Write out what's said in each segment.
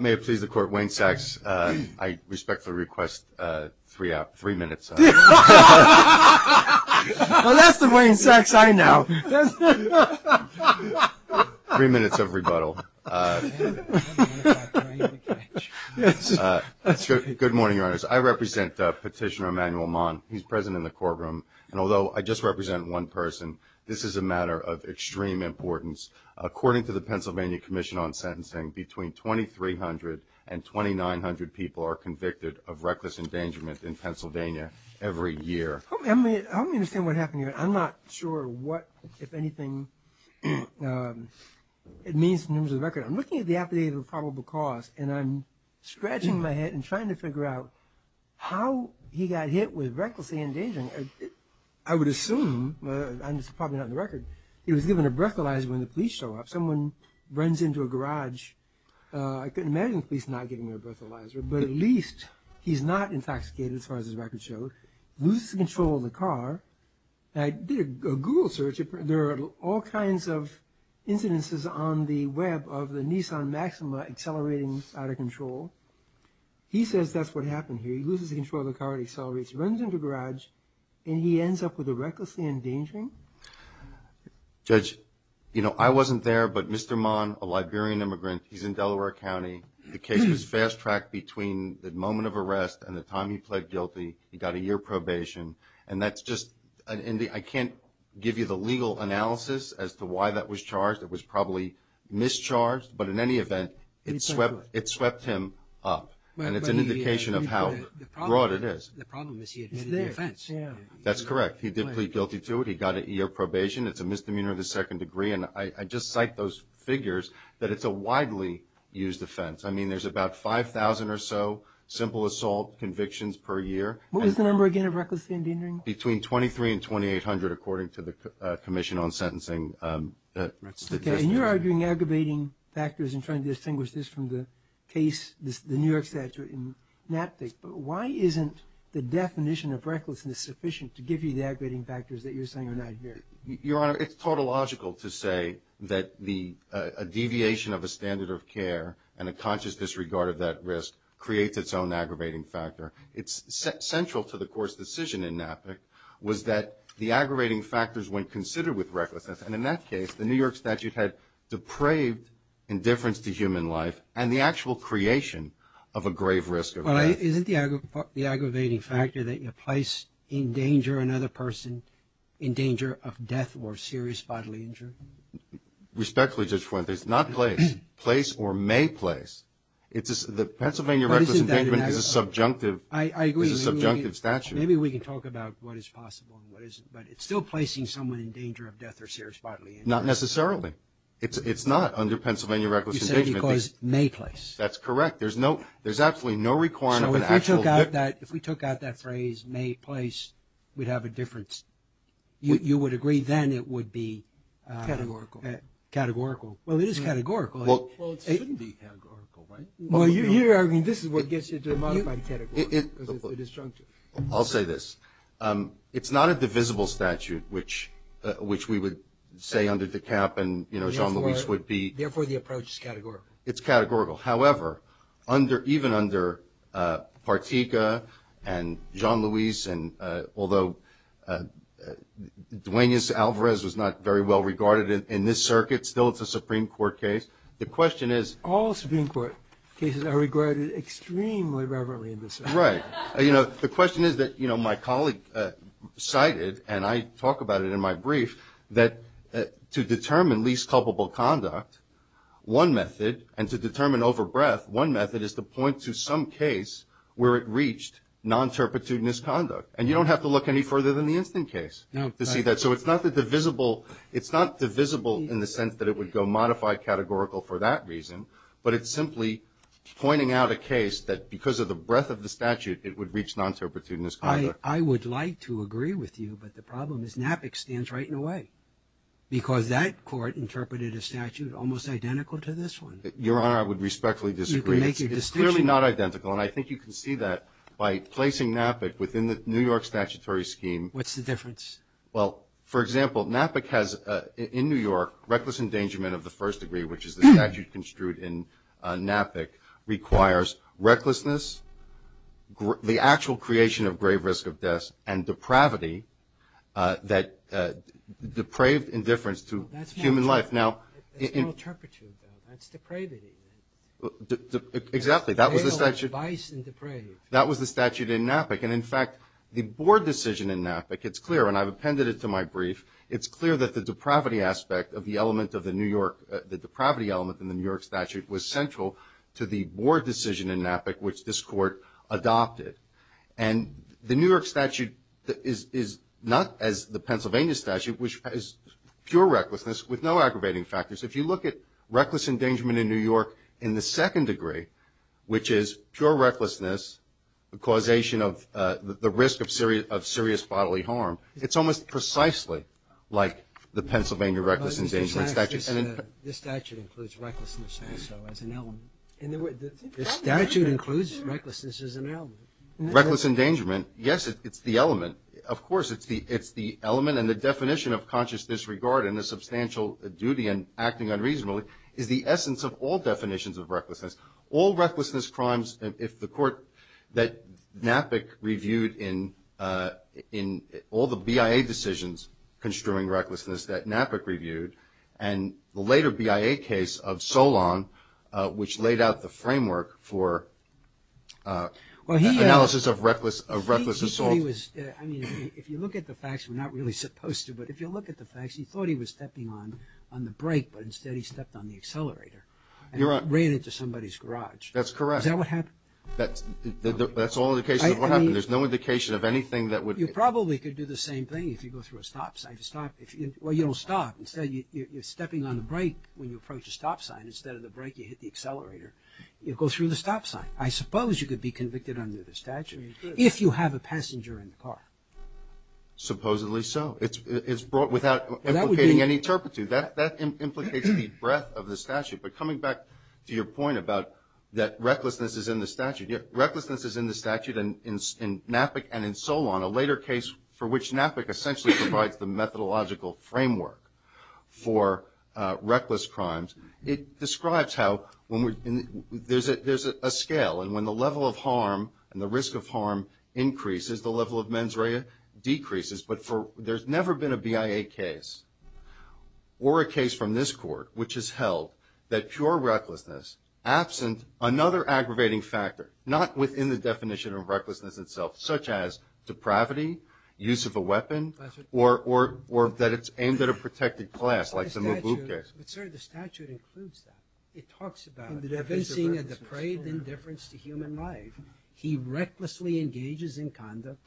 May it please the Court, Wayne Sachs, I respectfully request three minutes of rebuttal. Well, that's the Wayne Sachs I know. Three minutes of rebuttal. Good morning, Your Honors. I represent Petitioner Emanuel Mahn. He's present in the courtroom. And although I just represent one person, this is a matter of extreme importance. According to the Pennsylvania Commission on Sentencing, between 2,300 and 2,900 people are convicted of reckless endangerment in Pennsylvania every year. Help me understand what happened here. I'm not sure what, if anything, it means in terms of the record. I'm looking at the affidavit of probable cause, and I'm scratching my head and trying to figure out how he got hit with recklessly endangering. I would assume, and it's probably not in the record, he was given a breathalyzer when the police show up. Someone runs into a garage. I can imagine the police not giving him a breathalyzer, but at least he's not intoxicated as far as this record shows. He loses control of the car. I did a Google search. There are all kinds of incidences on the web of the Nissan Maxima accelerating out of control. He says that's what happened here. He loses control of the car, accelerates, runs into a garage, and he ends up with a recklessly endangering. Judge, you know, I wasn't there, but Mr. Mon, a Liberian immigrant, he's in Delaware County. The case was fast-tracked between the moment of arrest and the time he pled guilty. He got a year probation. And that's just – I can't give you the legal analysis as to why that was charged. It was probably mischarged, but in any event, it swept him up, and it's an indication of how broad it is. The problem is he admitted the offense. That's correct. He did plead guilty to it. He got a year probation. It's a misdemeanor of the second degree. And I just cite those figures that it's a widely used offense. I mean, there's about 5,000 or so simple assault convictions per year. What was the number again of recklessly endangering? Between 2,300 and 2,800, according to the Commission on Sentencing statistics. Okay. And you're arguing aggravating factors and trying to distinguish this from the case, the New York statute in NAPDIC. But why isn't the definition of recklessness sufficient to give you the aggravating factors that you're saying are not here? Your Honor, it's tautological to say that a deviation of a standard of care and a conscious disregard of that risk creates its own aggravating factor. It's central to the Court's decision in NAPDIC was that the aggravating factors went considered with recklessness. And in that case, the New York statute had depraved indifference to human life and the actual creation of a grave risk of death. Well, isn't the aggravating factor that you place in danger another person, in danger of death or serious bodily injury? Respectfully, Judge Fuentes, not place. Place or may place. The Pennsylvania reckless endangerment is a subjunctive statute. I agree. Maybe we can talk about what is possible and what isn't. But it's still placing someone in danger of death or serious bodily injury. Not necessarily. It's not under Pennsylvania reckless endangerment. You said because may place. That's correct. There's absolutely no requirement of an actual difference. So if we took out that phrase, may place, we'd have a difference. You would agree then it would be categorical. Categorical. Well, it is categorical. Well, it shouldn't be categorical, right? Well, you're arguing this is what gets you to a modified categorical because it's a disjunctive. I'll say this. It's not a divisible statute, which we would say under DeKalb and Jean-Louis would be. Therefore, the approach is categorical. It's categorical. However, even under Partika and Jean-Louis, and although Duaneus Alvarez was not very well regarded in this circuit, still it's a Supreme Court case. The question is. All Supreme Court cases are regarded extremely reverently in this circuit. Right. The question is that my colleague cited, and I talk about it in my brief, that to determine least culpable conduct, one method, and to determine over breath, one method is to point to some case where it reached non-terpitude misconduct. And you don't have to look any further than the instant case to see that. So it's not the divisible. It's not divisible in the sense that it would go modified categorical for that reason, but it's simply pointing out a case that because of the breadth of the statute, it would reach non-terpitude misconduct. I would like to agree with you, but the problem is NAPIC stands right in the way because that court interpreted a statute almost identical to this one. Your Honor, I would respectfully disagree. It's clearly not identical, and I think you can see that by placing NAPIC within the New York statutory scheme. What's the difference? Well, for example, NAPIC has in New York reckless endangerment of the first degree, which is the statute construed in NAPIC, requires recklessness, the actual creation of grave risk of death, and depravity that depraved indifference to human life. That's non-terpitude, though. That's depravity. Exactly. That was the statute. That was the statute in NAPIC. And, in fact, the board decision in NAPIC, it's clear, and I've appended it to my brief, it's clear that the depravity aspect of the element of the New York, the depravity element in the New York statute was central to the board decision in NAPIC, which this Court adopted. And the New York statute is not as the Pennsylvania statute, which has pure recklessness with no aggravating factors. If you look at reckless endangerment in New York in the second degree, which is pure recklessness, the causation of the risk of serious bodily harm, it's almost precisely like the Pennsylvania reckless endangerment statute. This statute includes recklessness also as an element. The statute includes recklessness as an element. Reckless endangerment, yes, it's the element. Of course, it's the element and the definition of conscious disregard and the substantial duty in acting unreasonably is the essence of all definitions of recklessness. All recklessness crimes, if the Court that NAPIC reviewed in all the BIA decisions construing recklessness that NAPIC reviewed, and the later BIA case of Solon, which laid out the framework for analysis of reckless assault. I mean, if you look at the facts, we're not really supposed to, but if you look at the facts, he thought he was stepping on the brake, but instead he stepped on the accelerator. You're right. And ran into somebody's garage. That's correct. Is that what happened? That's all indications of what happened. There's no indication of anything that would. You probably could do the same thing if you go through a stop sign. Well, you don't stop. Instead, you're stepping on the brake when you approach a stop sign. Instead of the brake, you hit the accelerator. You go through the stop sign. I suppose you could be convicted under the statute. You could. But you don't have a passenger in the car. Supposedly so. It's brought without implicating any turpitude. That implicates the breadth of the statute. But coming back to your point about that recklessness is in the statute, yeah, recklessness is in the statute in NAPIC and in Solon, a later case for which NAPIC essentially provides the methodological framework for reckless crimes. It describes how when we're – there's a scale, and when the level of harm and the risk of harm increases, the level of mens rea decreases. But there's never been a BIA case or a case from this court which has held that pure recklessness, absent another aggravating factor, not within the definition of recklessness itself, such as depravity, use of a weapon, or that it's aimed at a protected class like the Mubu case. But, sir, the statute includes that. It talks about evincing a depraved indifference to human life. He recklessly engages in conduct,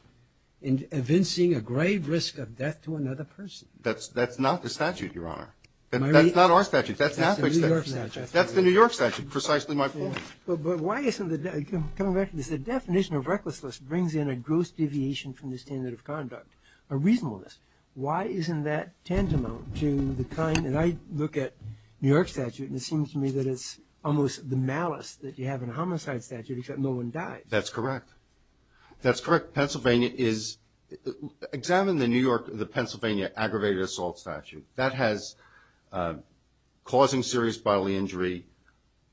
evincing a grave risk of death to another person. That's not the statute, Your Honor. That's not our statute. That's NAPIC's statute. That's the New York statute. That's the New York statute, precisely my point. But why isn't the – coming back to this, the definition of recklessness brings in a gross deviation from the standard of conduct, a reasonableness. Why isn't that tantamount to the kind – and I look at New York statute, and it seems to me that it's almost the malice that you have in homicide statute, except no one dies. That's correct. That's correct. Pennsylvania is – examine the New York – the Pennsylvania aggravated assault statute. That has causing serious bodily injury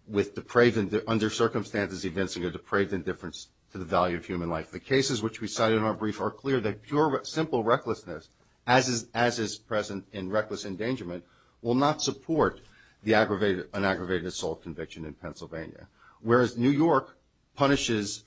with depraved – under circumstances evincing a depraved indifference to the value of human life. The cases which we cite in our brief are clear that pure, simple recklessness, as is present in reckless endangerment, will not support the aggravated – an aggravated assault conviction in Pennsylvania. Whereas New York punishes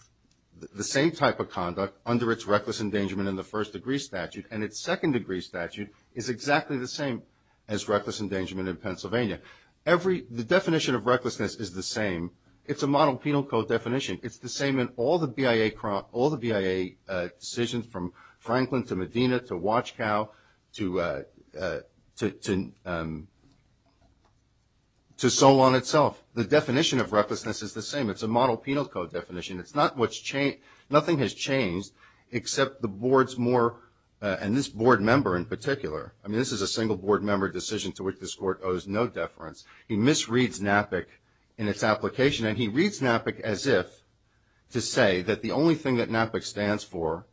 the same type of conduct under its reckless endangerment in the first degree statute, and its second degree statute is exactly the same as reckless endangerment in Pennsylvania. Every – the definition of recklessness is the same. It's a model penal code definition. It's the same in all the BIA – all the BIA decisions from Franklin to Medina to Watchcow to Solon itself. The definition of recklessness is the same. It's a model penal code definition. It's not what's – nothing has changed except the board's more – and this board member in particular. I mean, this is a single board member decision to which this court owes no deference. He misreads NAPIC in its application, and he reads NAPIC as if to say that the only thing that NAPIC stands for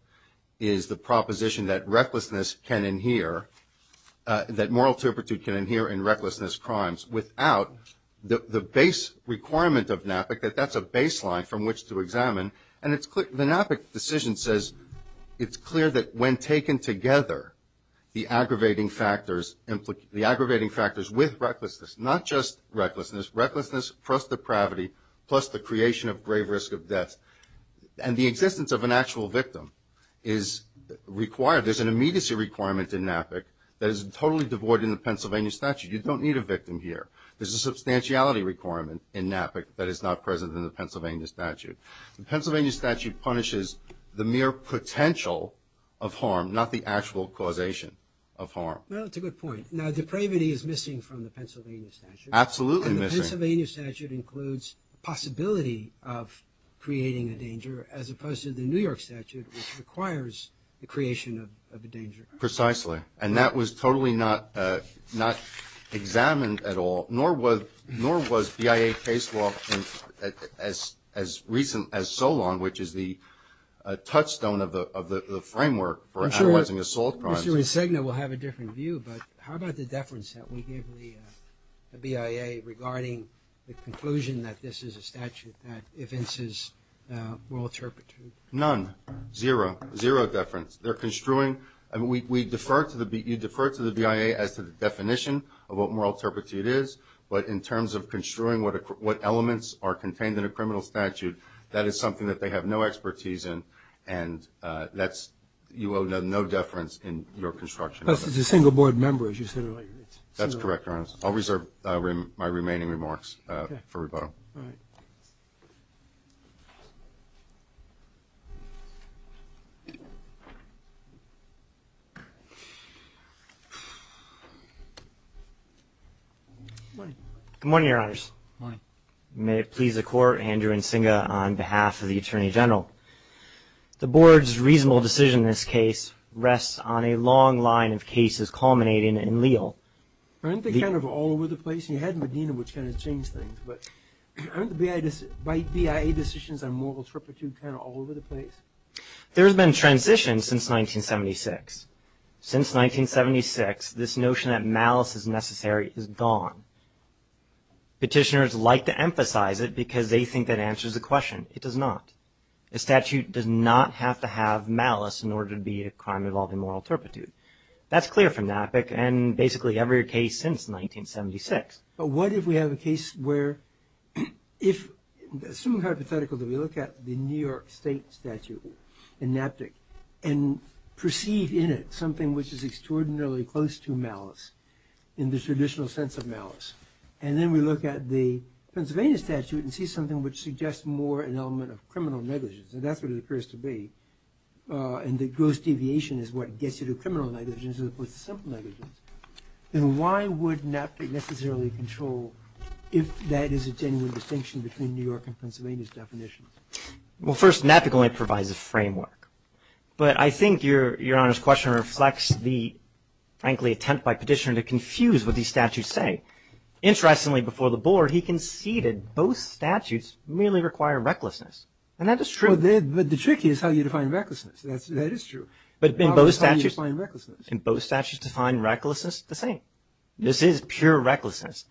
is the proposition that recklessness can inhere – that moral turpitude can inhere in recklessness crimes without the base requirement of NAPIC, that that's a baseline from which to examine. And it's – the NAPIC decision says it's clear that when taken together, the aggravating factors – the aggravating factors with recklessness, not just recklessness – recklessness plus depravity plus the creation of grave risk of death and the existence of an actual victim is required. There's an immediacy requirement in NAPIC that is totally devoid in the Pennsylvania statute. You don't need a victim here. There's a substantiality requirement in NAPIC that is not present in the Pennsylvania statute. The Pennsylvania statute punishes the mere potential of harm, not the actual causation of harm. Well, it's a good point. Now, depravity is missing from the Pennsylvania statute. Absolutely missing. And the Pennsylvania statute includes the possibility of creating a danger as opposed to the New York statute, which requires the creation of a danger. Precisely. And that was totally not examined at all, nor was BIA case law as recent as so long, which is the touchstone of the framework for analyzing assault crimes. I'm sure Mr. Insigne will have a different view, but how about the deference that we give the BIA regarding the conclusion that this is a statute that evinces moral turpitude? None. Zero. Zero deference. They're construing – we defer to the – you defer to the BIA as to the definition of what moral turpitude is, but in terms of construing what elements are contained in a criminal statute, that is something that they have no expertise in, and that's – you owe no deference in your construction. Plus it's a single board member, as you said earlier. That's correct, Your Honor. I'll reserve my remaining remarks for rebuttal. All right. Good morning, Your Honors. Good morning. May it please the Court, Andrew Insigne on behalf of the Attorney General. The Board's reasonable decision in this case rests on a long line of cases culminating in Leal. Aren't they kind of all over the place? You had Medina, which kind of changed things, but aren't the BIA decisions on moral turpitude kind of all over the place? There has been transition since 1976. Since 1976, this notion that malice is necessary is gone. Petitioners like to emphasize it because they think that answers the question. It does not. A statute does not have to have malice in order to be a crime involving moral turpitude. That's clear from Knappick and basically every case since 1976. But what if we have a case where if – assume hypothetical that we look at the New York State statute in Knappick and perceive in it something which is extraordinarily close to malice in the traditional sense of malice, and then we look at the Pennsylvania statute and see something which suggests more an element of criminal negligence, and that's what it occurs to be, and the gross deviation is what gets you to criminal negligence as opposed to simple negligence, then why would Knappick necessarily control if that is a genuine distinction between New York and Pennsylvania's definitions? Well, first, Knappick only provides a framework. But I think Your Honor's question reflects the, frankly, attempt by petitioner to confuse what these statutes say. Interestingly, before the board, he conceded both statutes merely require recklessness, and that is true. But the trick is how you define recklessness. That is true. But in both statutes – How do you define recklessness? In both statutes define recklessness the same. This is pure recklessness.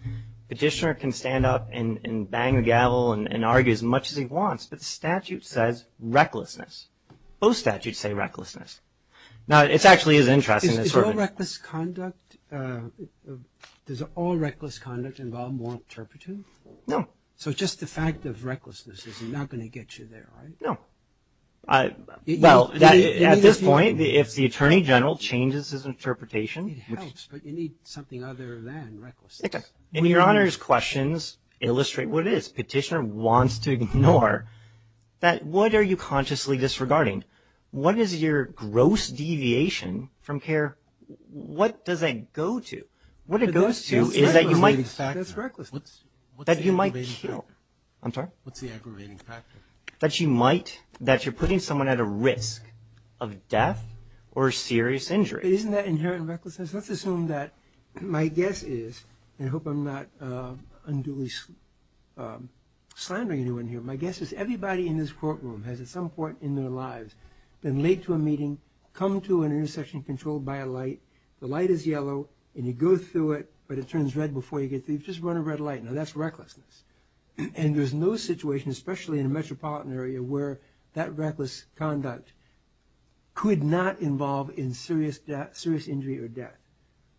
Petitioner can stand up and bang the gavel and argue as much as he wants, but the statute says recklessness. Both statutes say recklessness. Now, it actually is interesting. Is all reckless conduct – does all reckless conduct involve moral turpitude? No. So just the fact of recklessness is not going to get you there, right? No. Well, at this point, if the Attorney General changes his interpretation – It helps, but you need something other than recklessness. Okay. And Your Honor's questions illustrate what it is. Petitioner wants to ignore that what are you consciously disregarding? What is your gross deviation from care? What does that go to? What it goes to is that you might – That's recklessness. That's recklessness. That you might kill. I'm sorry? What's the aggravating factor? That you might – that you're putting someone at a risk of death or serious injury. But isn't that inherent recklessness? Let's assume that my guess is – and I hope I'm not unduly slandering anyone here – my guess is everybody in this courtroom has at some point in their lives been late to a meeting, come to an intersection controlled by a light, the light is yellow, and you go through it, but it turns red before you get through. You've just run a red light. Now, that's recklessness. And there's no situation, especially in a metropolitan area, where that reckless conduct could not involve in serious injury or death.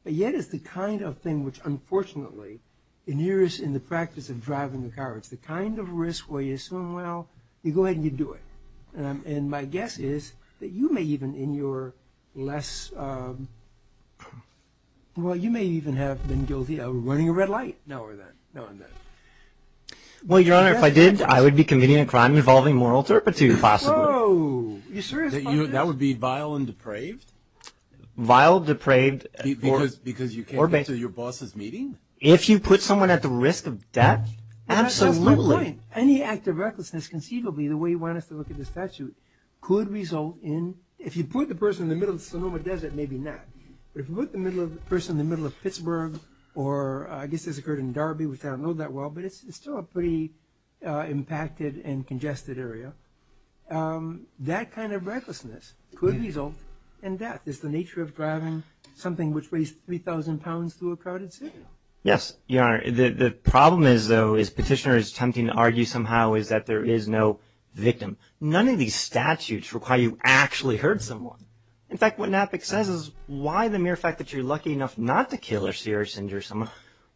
But yet it's the kind of thing which, unfortunately, inheres in the practice of driving a car. It's the kind of risk where you assume, well, you go ahead and you do it. And my guess is that you may even in your less – well, you may even have been guilty of running a red light now or then, now and then. Well, Your Honor, if I did, I would be committing a crime involving moral turpitude, possibly. Whoa. Are you serious about this? That would be vile and depraved? Vile, depraved, or – Because you can't get to your boss's meeting? If you put someone at the risk of death, absolutely. That's the whole point. Any act of recklessness, conceivably, the way you want us to look at this statute, could result in – if you put the person in the middle of Sonoma Desert, maybe not. But if you put the person in the middle of Pittsburgh, or I guess this occurred in Darby, which I don't know that well, but it's still a pretty impacted and congested area, that kind of recklessness could result in death. It's the nature of driving something which weighs 3,000 pounds through a crowded city. Yes, Your Honor. The problem is, though, as Petitioner is attempting to argue somehow, is that there is no victim. None of these statutes require you to actually hurt someone. In fact, what NAPIC says is, why the mere fact that you're lucky enough not to kill or seriously injure someone,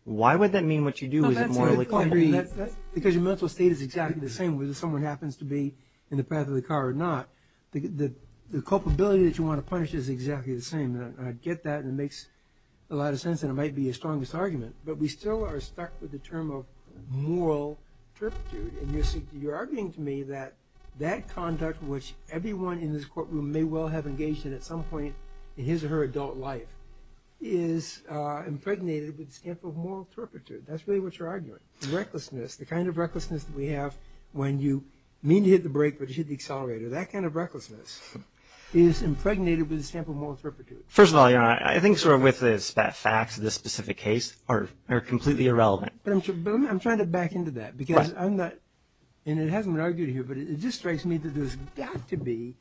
why would that mean what you do isn't morally culpable? Because your mental state is exactly the same whether someone happens to be in the path of the car or not. The culpability that you want to punish is exactly the same. I get that, and it makes a lot of sense, and it might be your strongest argument. But we still are stuck with the term of moral turpitude. And you're arguing to me that that conduct which everyone in this courtroom may well have engaged in at some point in his or her adult life is impregnated with a stamp of moral turpitude. That's really what you're arguing. Recklessness, the kind of recklessness that we have when you mean to hit the brake, but you hit the accelerator, that kind of recklessness is impregnated with a stamp of moral turpitude. First of all, Your Honor, I think sort of with the facts of this specific case are completely irrelevant. But I'm trying to back into that, because I'm not... and it hasn't been argued here, but it just strikes me that there's got to be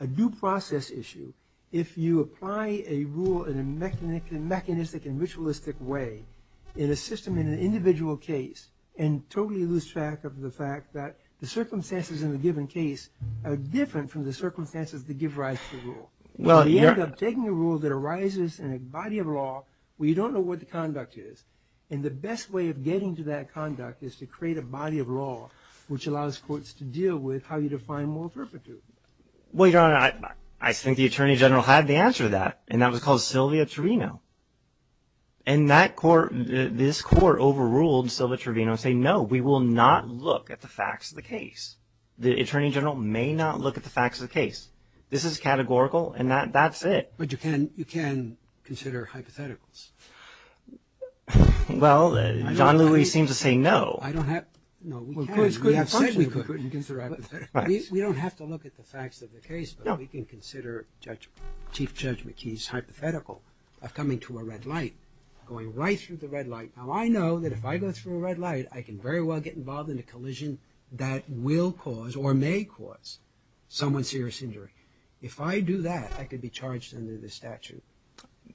a due process issue if you apply a rule in a mechanistic and ritualistic way in a system, in an individual case, and totally lose track of the fact that the circumstances in a given case are different from the circumstances that give rise to the rule. You end up taking a rule that arises in a body of law where you don't know what the conduct is, and the best way of getting to that conduct is to create a body of law which allows courts to deal with how you define moral turpitude. Well, Your Honor, I think the Attorney General had the answer to that, and that was called Sylvia Trevino. And that court, this court overruled Sylvia Trevino saying, no, we will not look at the facts of the case. The Attorney General may not look at the facts of the case. This is categorical, and that's it. But you can consider hypotheticals. Well, John Lewis seems to say no. No, we can. We have said we could. We don't have to look at the facts of the case, but we can consider Chief Judge McKee's hypothetical of coming to a red light, going right through the red light. Now, I know that if I go through a red light, I can very well get involved in a collision that will cause or may cause someone serious injury. If I do that, I could be charged under the statute.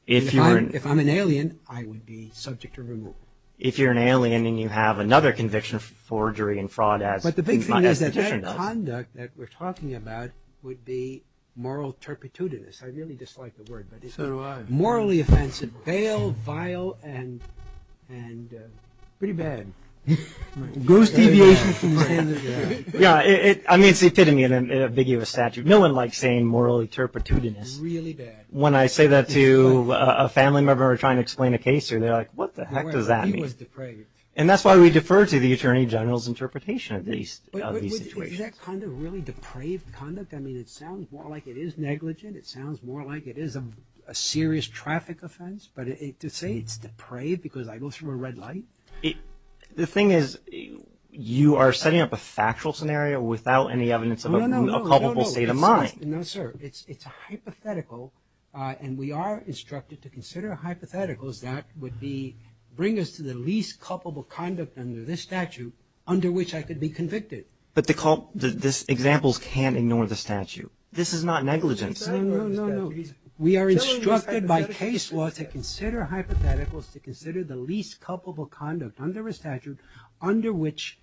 If I'm an alien, I would be subject to removal. If you're an alien and you have another conviction of forgery and fraud as the petition does. But the big thing is that that conduct that we're talking about would be moral turpitudinous. I really dislike the word. So do I. Morally offensive, pale, vile, and pretty bad. Goose deviations from the standard. I mean, it's the epitome of an ambiguous statute. No one likes saying morally turpitudinous. Really bad. When I say that to a family member trying to explain a case, they're like, what the heck does that mean? He was depraved. And that's why we defer to the Attorney General's interpretation of these situations. Is that kind of really depraved conduct? I mean, it sounds more like it is negligent. It sounds more like it is a serious traffic offense. But to say it's depraved because I go through a red light? The thing is, you are setting up a factual scenario without any evidence of a culpable state of mind. No, sir. It's hypothetical. And we are instructed to consider hypotheticals that would bring us to the least culpable conduct under this statute under which I could be convicted. But the examples can't ignore the statute. This is not negligence. No, no, no. We are instructed by case law to consider hypotheticals to consider the least culpable conduct under a statute under which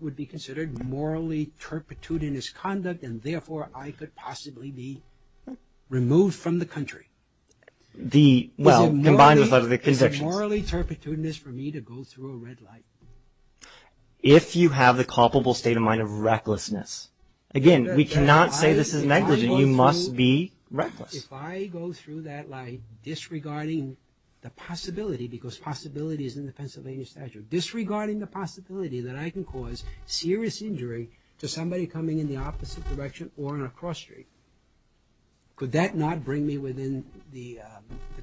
would be considered morally turpitudinous conduct and therefore I could possibly be removed from the country. Well, combined with other convictions. Is it morally turpitudinous for me to go through a red light? If you have the culpable state of mind of recklessness. Again, we cannot say this is negligent. You must be reckless. If I go through that light disregarding the possibility, because possibility is in the Pennsylvania statute, disregarding the possibility that I can cause serious injury to somebody coming in the opposite direction or on a cross street, could that not bring me within the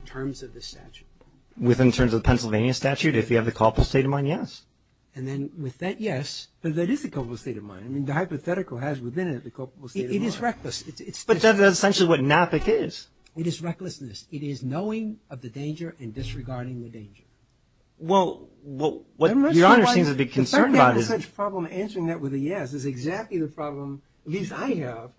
terms of this statute? Within terms of the Pennsylvania statute? If you have the culpable state of mind, yes. And then with that, yes. But that is the culpable state of mind. I mean, the hypothetical has within it the culpable state of mind. It is reckless. But that is essentially what NAPIC is. It is recklessness. It is knowing of the danger and disregarding the danger. Well, what Your Honor seems to be concerned about is... The fact that you have such a problem answering that with a yes is exactly the problem, at least I have,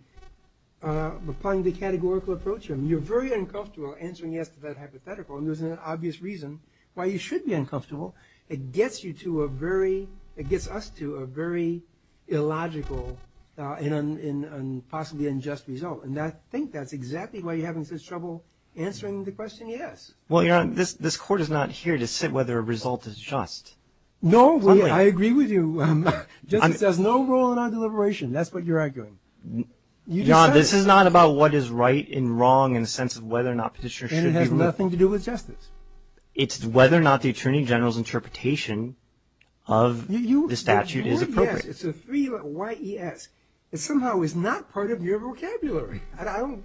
upon the categorical approach. You're very uncomfortable answering yes to that hypothetical and there's an obvious reason why you should be uncomfortable. It gets you to a very... It gets us to a very illogical and possibly unjust result. And I think that's exactly why you're having such trouble answering the question yes. Well, Your Honor, this Court is not here to sit whether a result is just. No, I agree with you. Justice has no role in our deliberation. That's what you're arguing. Your Honor, this is not about what is right and wrong in the sense of whether or not petitioners should be... And it has nothing to do with justice. It's whether or not the Attorney General's interpretation of the statute is appropriate. It's a three-y-e-s. It somehow is not part of your vocabulary. I don't...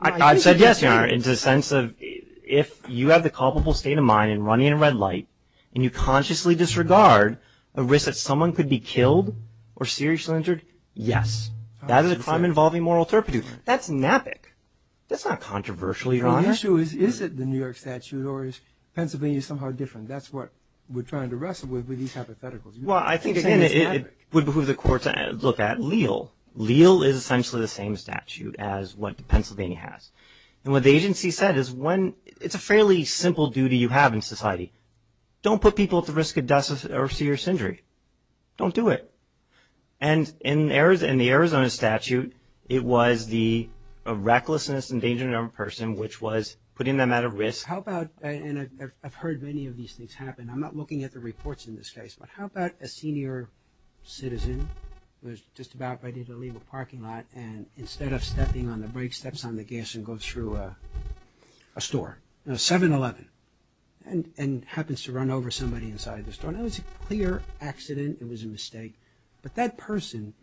I've said yes, Your Honor, in the sense of if you have the culpable state of mind in running a red light and you consciously disregard a risk that someone could be killed or seriously injured, yes. That is a crime involving moral turpitude. That's nappic. That's not controversial, Your Honor. Well, the issue is, is it the New York statute or is Pennsylvania somehow different? That's what we're trying to wrestle with with these hypotheticals. Well, I think, again, it would behoove the Court to look at Leal. Leal is essentially the same statute as what Pennsylvania has. And what the agency said is when... It's a fairly simple duty you have in society. Don't put people at the risk of death or serious injury. Don't do it. And in the Arizona statute, it was the recklessness and endangerment of a person, which was putting them at a risk. How about... And I've heard many of these things happen. I'm not looking at the reports in this case. But how about a senior citizen who was just about ready to leave a parking lot and instead of stepping on the brake, steps on the gas and goes through a store, a 7-Eleven, and happens to run over somebody inside the store. Now, it was a clear accident. It was a mistake. But that person,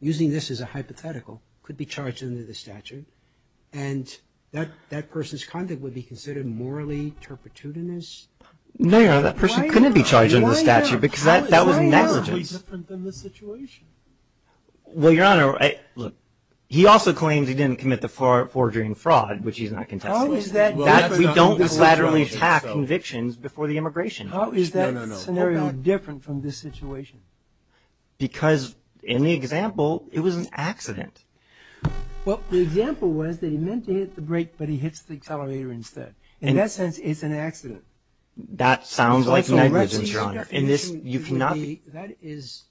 using this as a hypothetical, could be charged under the statute. And that person's conduct would be considered morally turpitudinous? No, Your Honor. That person couldn't be charged under the statute because that was negligence. Why not? How is that different from the situation? Well, Your Honor, look, he also claims he didn't commit the forgery and fraud, which he's not contesting. How is that different? We don't collaterally attack convictions before the immigration. How is that scenario different from this situation? Because in the example, it was an accident. Well, the example was that he meant to hit the brake, but he hits the accelerator instead. In that sense, it's an accident. That sounds like negligence, Your Honor. That is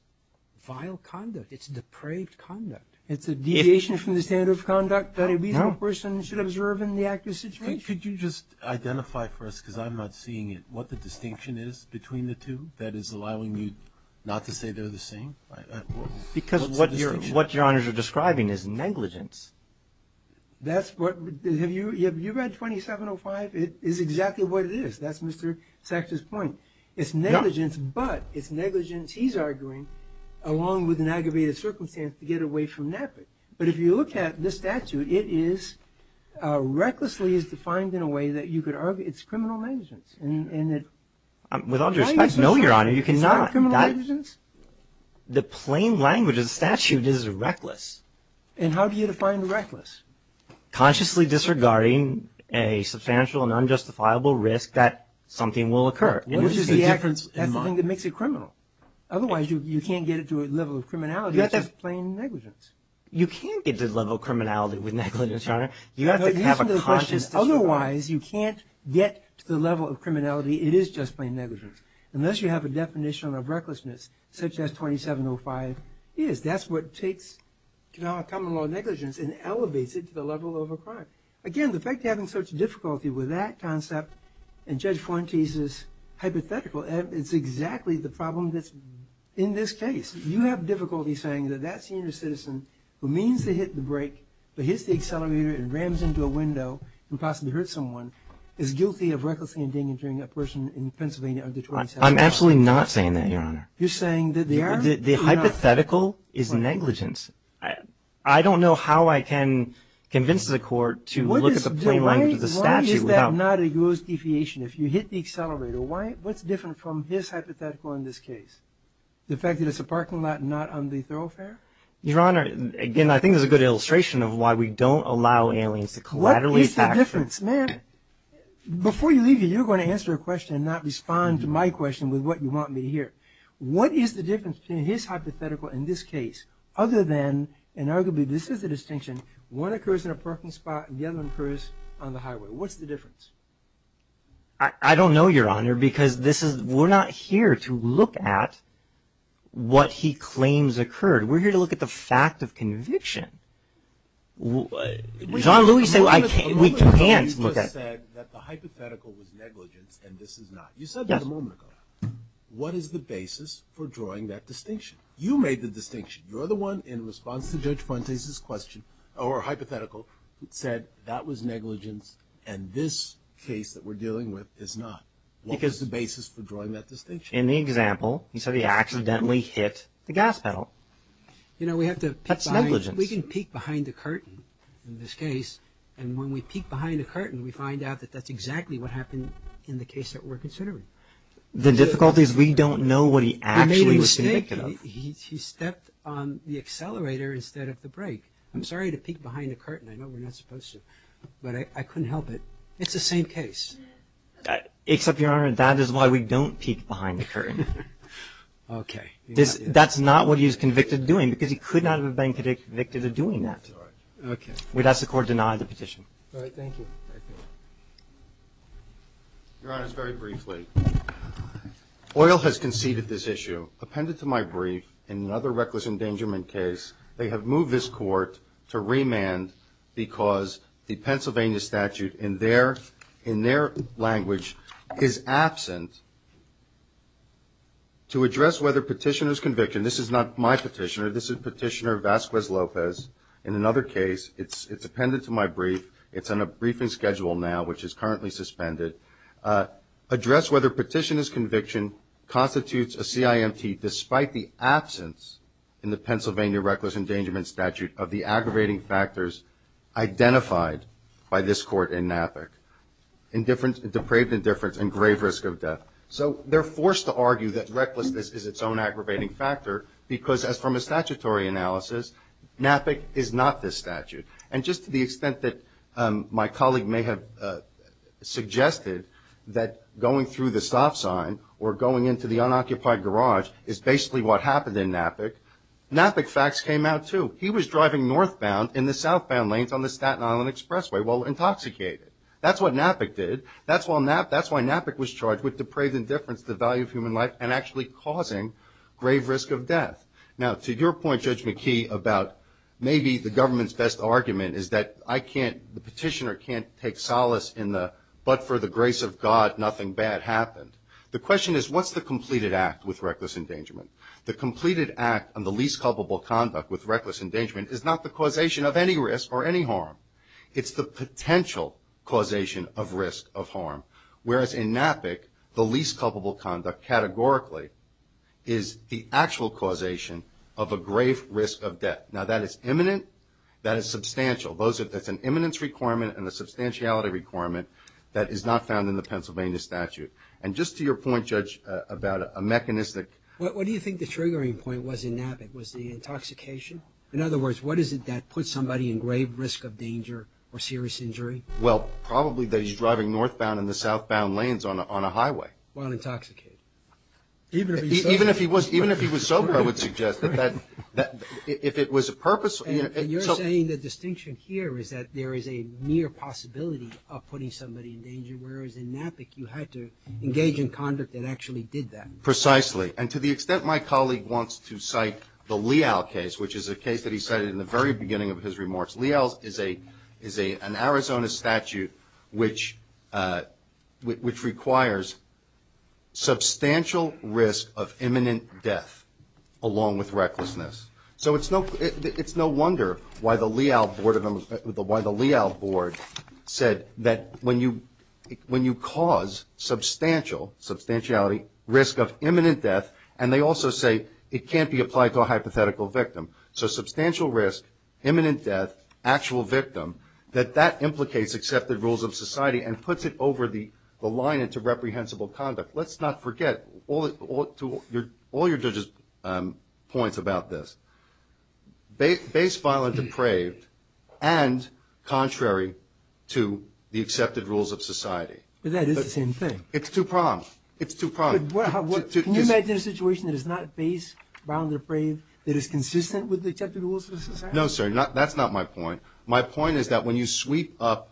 vile conduct. It's depraved conduct. It's a deviation from the standard of conduct that a reasonable person should observe in the active situation. Could you just identify for us, because I'm not seeing it, what the distinction is between the two that is allowing you not to say they're the same? Because what Your Honors are describing is negligence. Have you read 2705? It is exactly what it is. That's Mr. Sachs' point. It's negligence, but it's negligence, he's arguing, along with an aggravated circumstance to get away from NAPIC. But if you look at the statute, it is recklessly defined in a way that you could argue it's criminal negligence With all due respect, no, Your Honor, you cannot. Is that criminal negligence? The plain language of the statute is reckless. And how do you define reckless? Consciously disregarding a substantial and unjustifiable risk that something will occur. That's the thing that makes it criminal. Otherwise, you can't get it to a level of criminality. That's just plain negligence. You can't get to the level of criminality with negligence, Your Honor. You have to have a conscious disregard. Otherwise, you can't get to the level of criminality. It is just plain negligence. Unless you have a definition of recklessness, such as 2705 is. That's what takes common law negligence and elevates it to the level of a crime. Again, the fact you're having such difficulty with that concept and Judge Fuentes' hypothetical, it's exactly the problem that's in this case. You have difficulty saying that that senior citizen who means to hit the brake, but hits the accelerator and rams into a window and possibly hurts someone, is guilty of recklessly endangering a person in Pennsylvania under 275. I'm absolutely not saying that, Your Honor. You're saying that they are? The hypothetical is negligence. I don't know how I can convince the court to look at the plain language of the statute. Why is that not a gross deviation? If you hit the accelerator, what's different from his hypothetical in this case? The fact that it's a parking lot and not on the thoroughfare? Your Honor, again, I think there's a good illustration of why we don't allow aliens to collaterally attack. What is the difference? Man, before you leave here, you're going to answer a question and not respond to my question with what you want me to hear. What is the difference between his hypothetical and this case, other than, and arguably this is the distinction, one occurs in a parking spot and the other occurs on the highway? What's the difference? I don't know, Your Honor, because we're not here to look at what he claims occurred. We're here to look at the fact of conviction. John Lewis said we can't look at it. A moment ago you just said that the hypothetical was negligence and this is not. You said that a moment ago. What is the basis for drawing that distinction? You made the distinction. You're the one in response to Judge Fuentes' question or hypothetical that said that was negligence and this case that we're dealing with is not. What is the basis for drawing that distinction? In the example, you said he accidentally hit the gas pedal. That's negligence. You know, we can peek behind the curtain in this case, and when we peek behind the curtain we find out that that's exactly what happened in the case that we're considering. The difficulty is we don't know what he actually was convicted of. He made a mistake. He stepped on the accelerator instead of the brake. I'm sorry to peek behind the curtain. I know we're not supposed to, but I couldn't help it. It's the same case. Except, Your Honor, that is why we don't peek behind the curtain. Okay. That's not what he was convicted of doing because he could not have been convicted of doing that. All right. Okay. We'd ask the Court to deny the petition. All right. Thank you. Thank you. Your Honors, very briefly, Oil has conceded this issue. Appended to my brief, in another reckless endangerment case, they have moved this Court to remand because the Pennsylvania statute in their language is absent to address whether petitioner's conviction. This is not my petitioner. This is Petitioner Vasquez Lopez in another case. It's appended to my brief. It's on a briefing schedule now, which is currently suspended. Address whether petitioner's conviction constitutes a CIMT despite the absence in the Pennsylvania reckless endangerment statute of the aggravating factors identified by this Court in NAPIC. Depraved indifference and grave risk of death. So they're forced to argue that recklessness is its own aggravating factor because, as from a statutory analysis, NAPIC is not this statute. And just to the extent that my colleague may have suggested that going through the stop sign or going into the unoccupied garage is basically what happened in NAPIC, NAPIC facts came out, too. He was driving northbound in the southbound lanes on the Staten Island Expressway while intoxicated. That's what NAPIC did. That's why NAPIC was charged with depraved indifference to the value of human life and actually causing grave risk of death. Now, to your point, Judge McKee, about maybe the government's best argument is that I can't, the petitioner can't take solace in the but for the grace of God nothing bad happened. The question is what's the completed act with reckless endangerment? The completed act on the least culpable conduct with reckless endangerment is not the causation of any risk or any harm. It's the potential causation of risk of harm, whereas in NAPIC, the least culpable conduct categorically is the actual causation of a grave risk of death. Now, that is imminent, that is substantial. That's an imminence requirement and a substantiality requirement that is not found in the Pennsylvania statute. And just to your point, Judge, about a mechanistic. What do you think the triggering point was in NAPIC? Was the intoxication? In other words, what is it that puts somebody in grave risk of danger or serious injury? Well, probably that he's driving northbound in the southbound lanes on a highway. While intoxicated. Even if he was sober. Even if he was sober, I would suggest that if it was a purpose. And you're saying the distinction here is that there is a mere possibility of putting somebody in danger, whereas in NAPIC you had to engage in conduct that actually did that. Precisely. And to the extent my colleague wants to cite the Leal case, which is a case that he cited in the very beginning of his remarks. Leal is an Arizona statute which requires substantial risk of imminent death along with recklessness. So it's no wonder why the Leal board said that when you cause substantial, substantiality, risk of imminent death, and they also say it can't be applied to a hypothetical victim. So substantial risk, imminent death, actual victim, that that implicates accepted rules of society and puts it over the line into reprehensible conduct. Let's not forget all your points about this. Based, violent, depraved, and contrary to the accepted rules of society. But that is the same thing. It's two prongs. It's two prongs. Can you imagine a situation that is not based, violent, depraved, that is consistent with the accepted rules of society? No, sir, that's not my point. My point is that when you sweep up,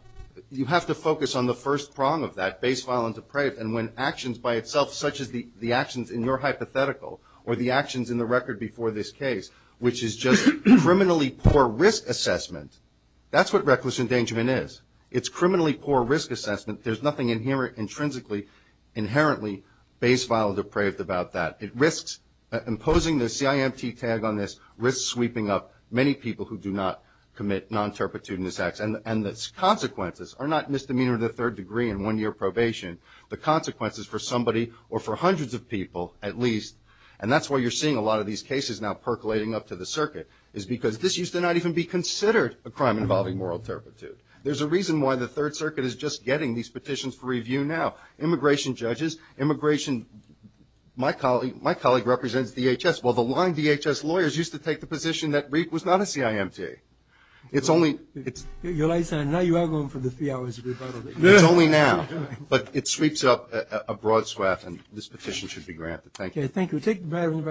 you have to focus on the first prong of that, based, violent, depraved. And when actions by itself, such as the actions in your hypothetical or the actions in the record before this case, which is just criminally poor risk assessment, that's what reckless endangerment is. It's criminally poor risk assessment. There's nothing intrinsically, inherently based, violent, depraved about that. Imposing the CIMT tag on this risks sweeping up many people who do not commit non-terpitudinous acts. And the consequences are not misdemeanor to the third degree and one-year probation. The consequences for somebody or for hundreds of people at least, and that's why you're seeing a lot of these cases now percolating up to the circuit, is because this used to not even be considered a crime involving moral turpitude. There's a reason why the third circuit is just getting these petitions for review now. Immigration judges, immigration, my colleague represents DHS. Well, the long DHS lawyers used to take the position that REAP was not a CIMT. It's only now, but it sweeps up a broad swath, and this petition should be granted. Thank you.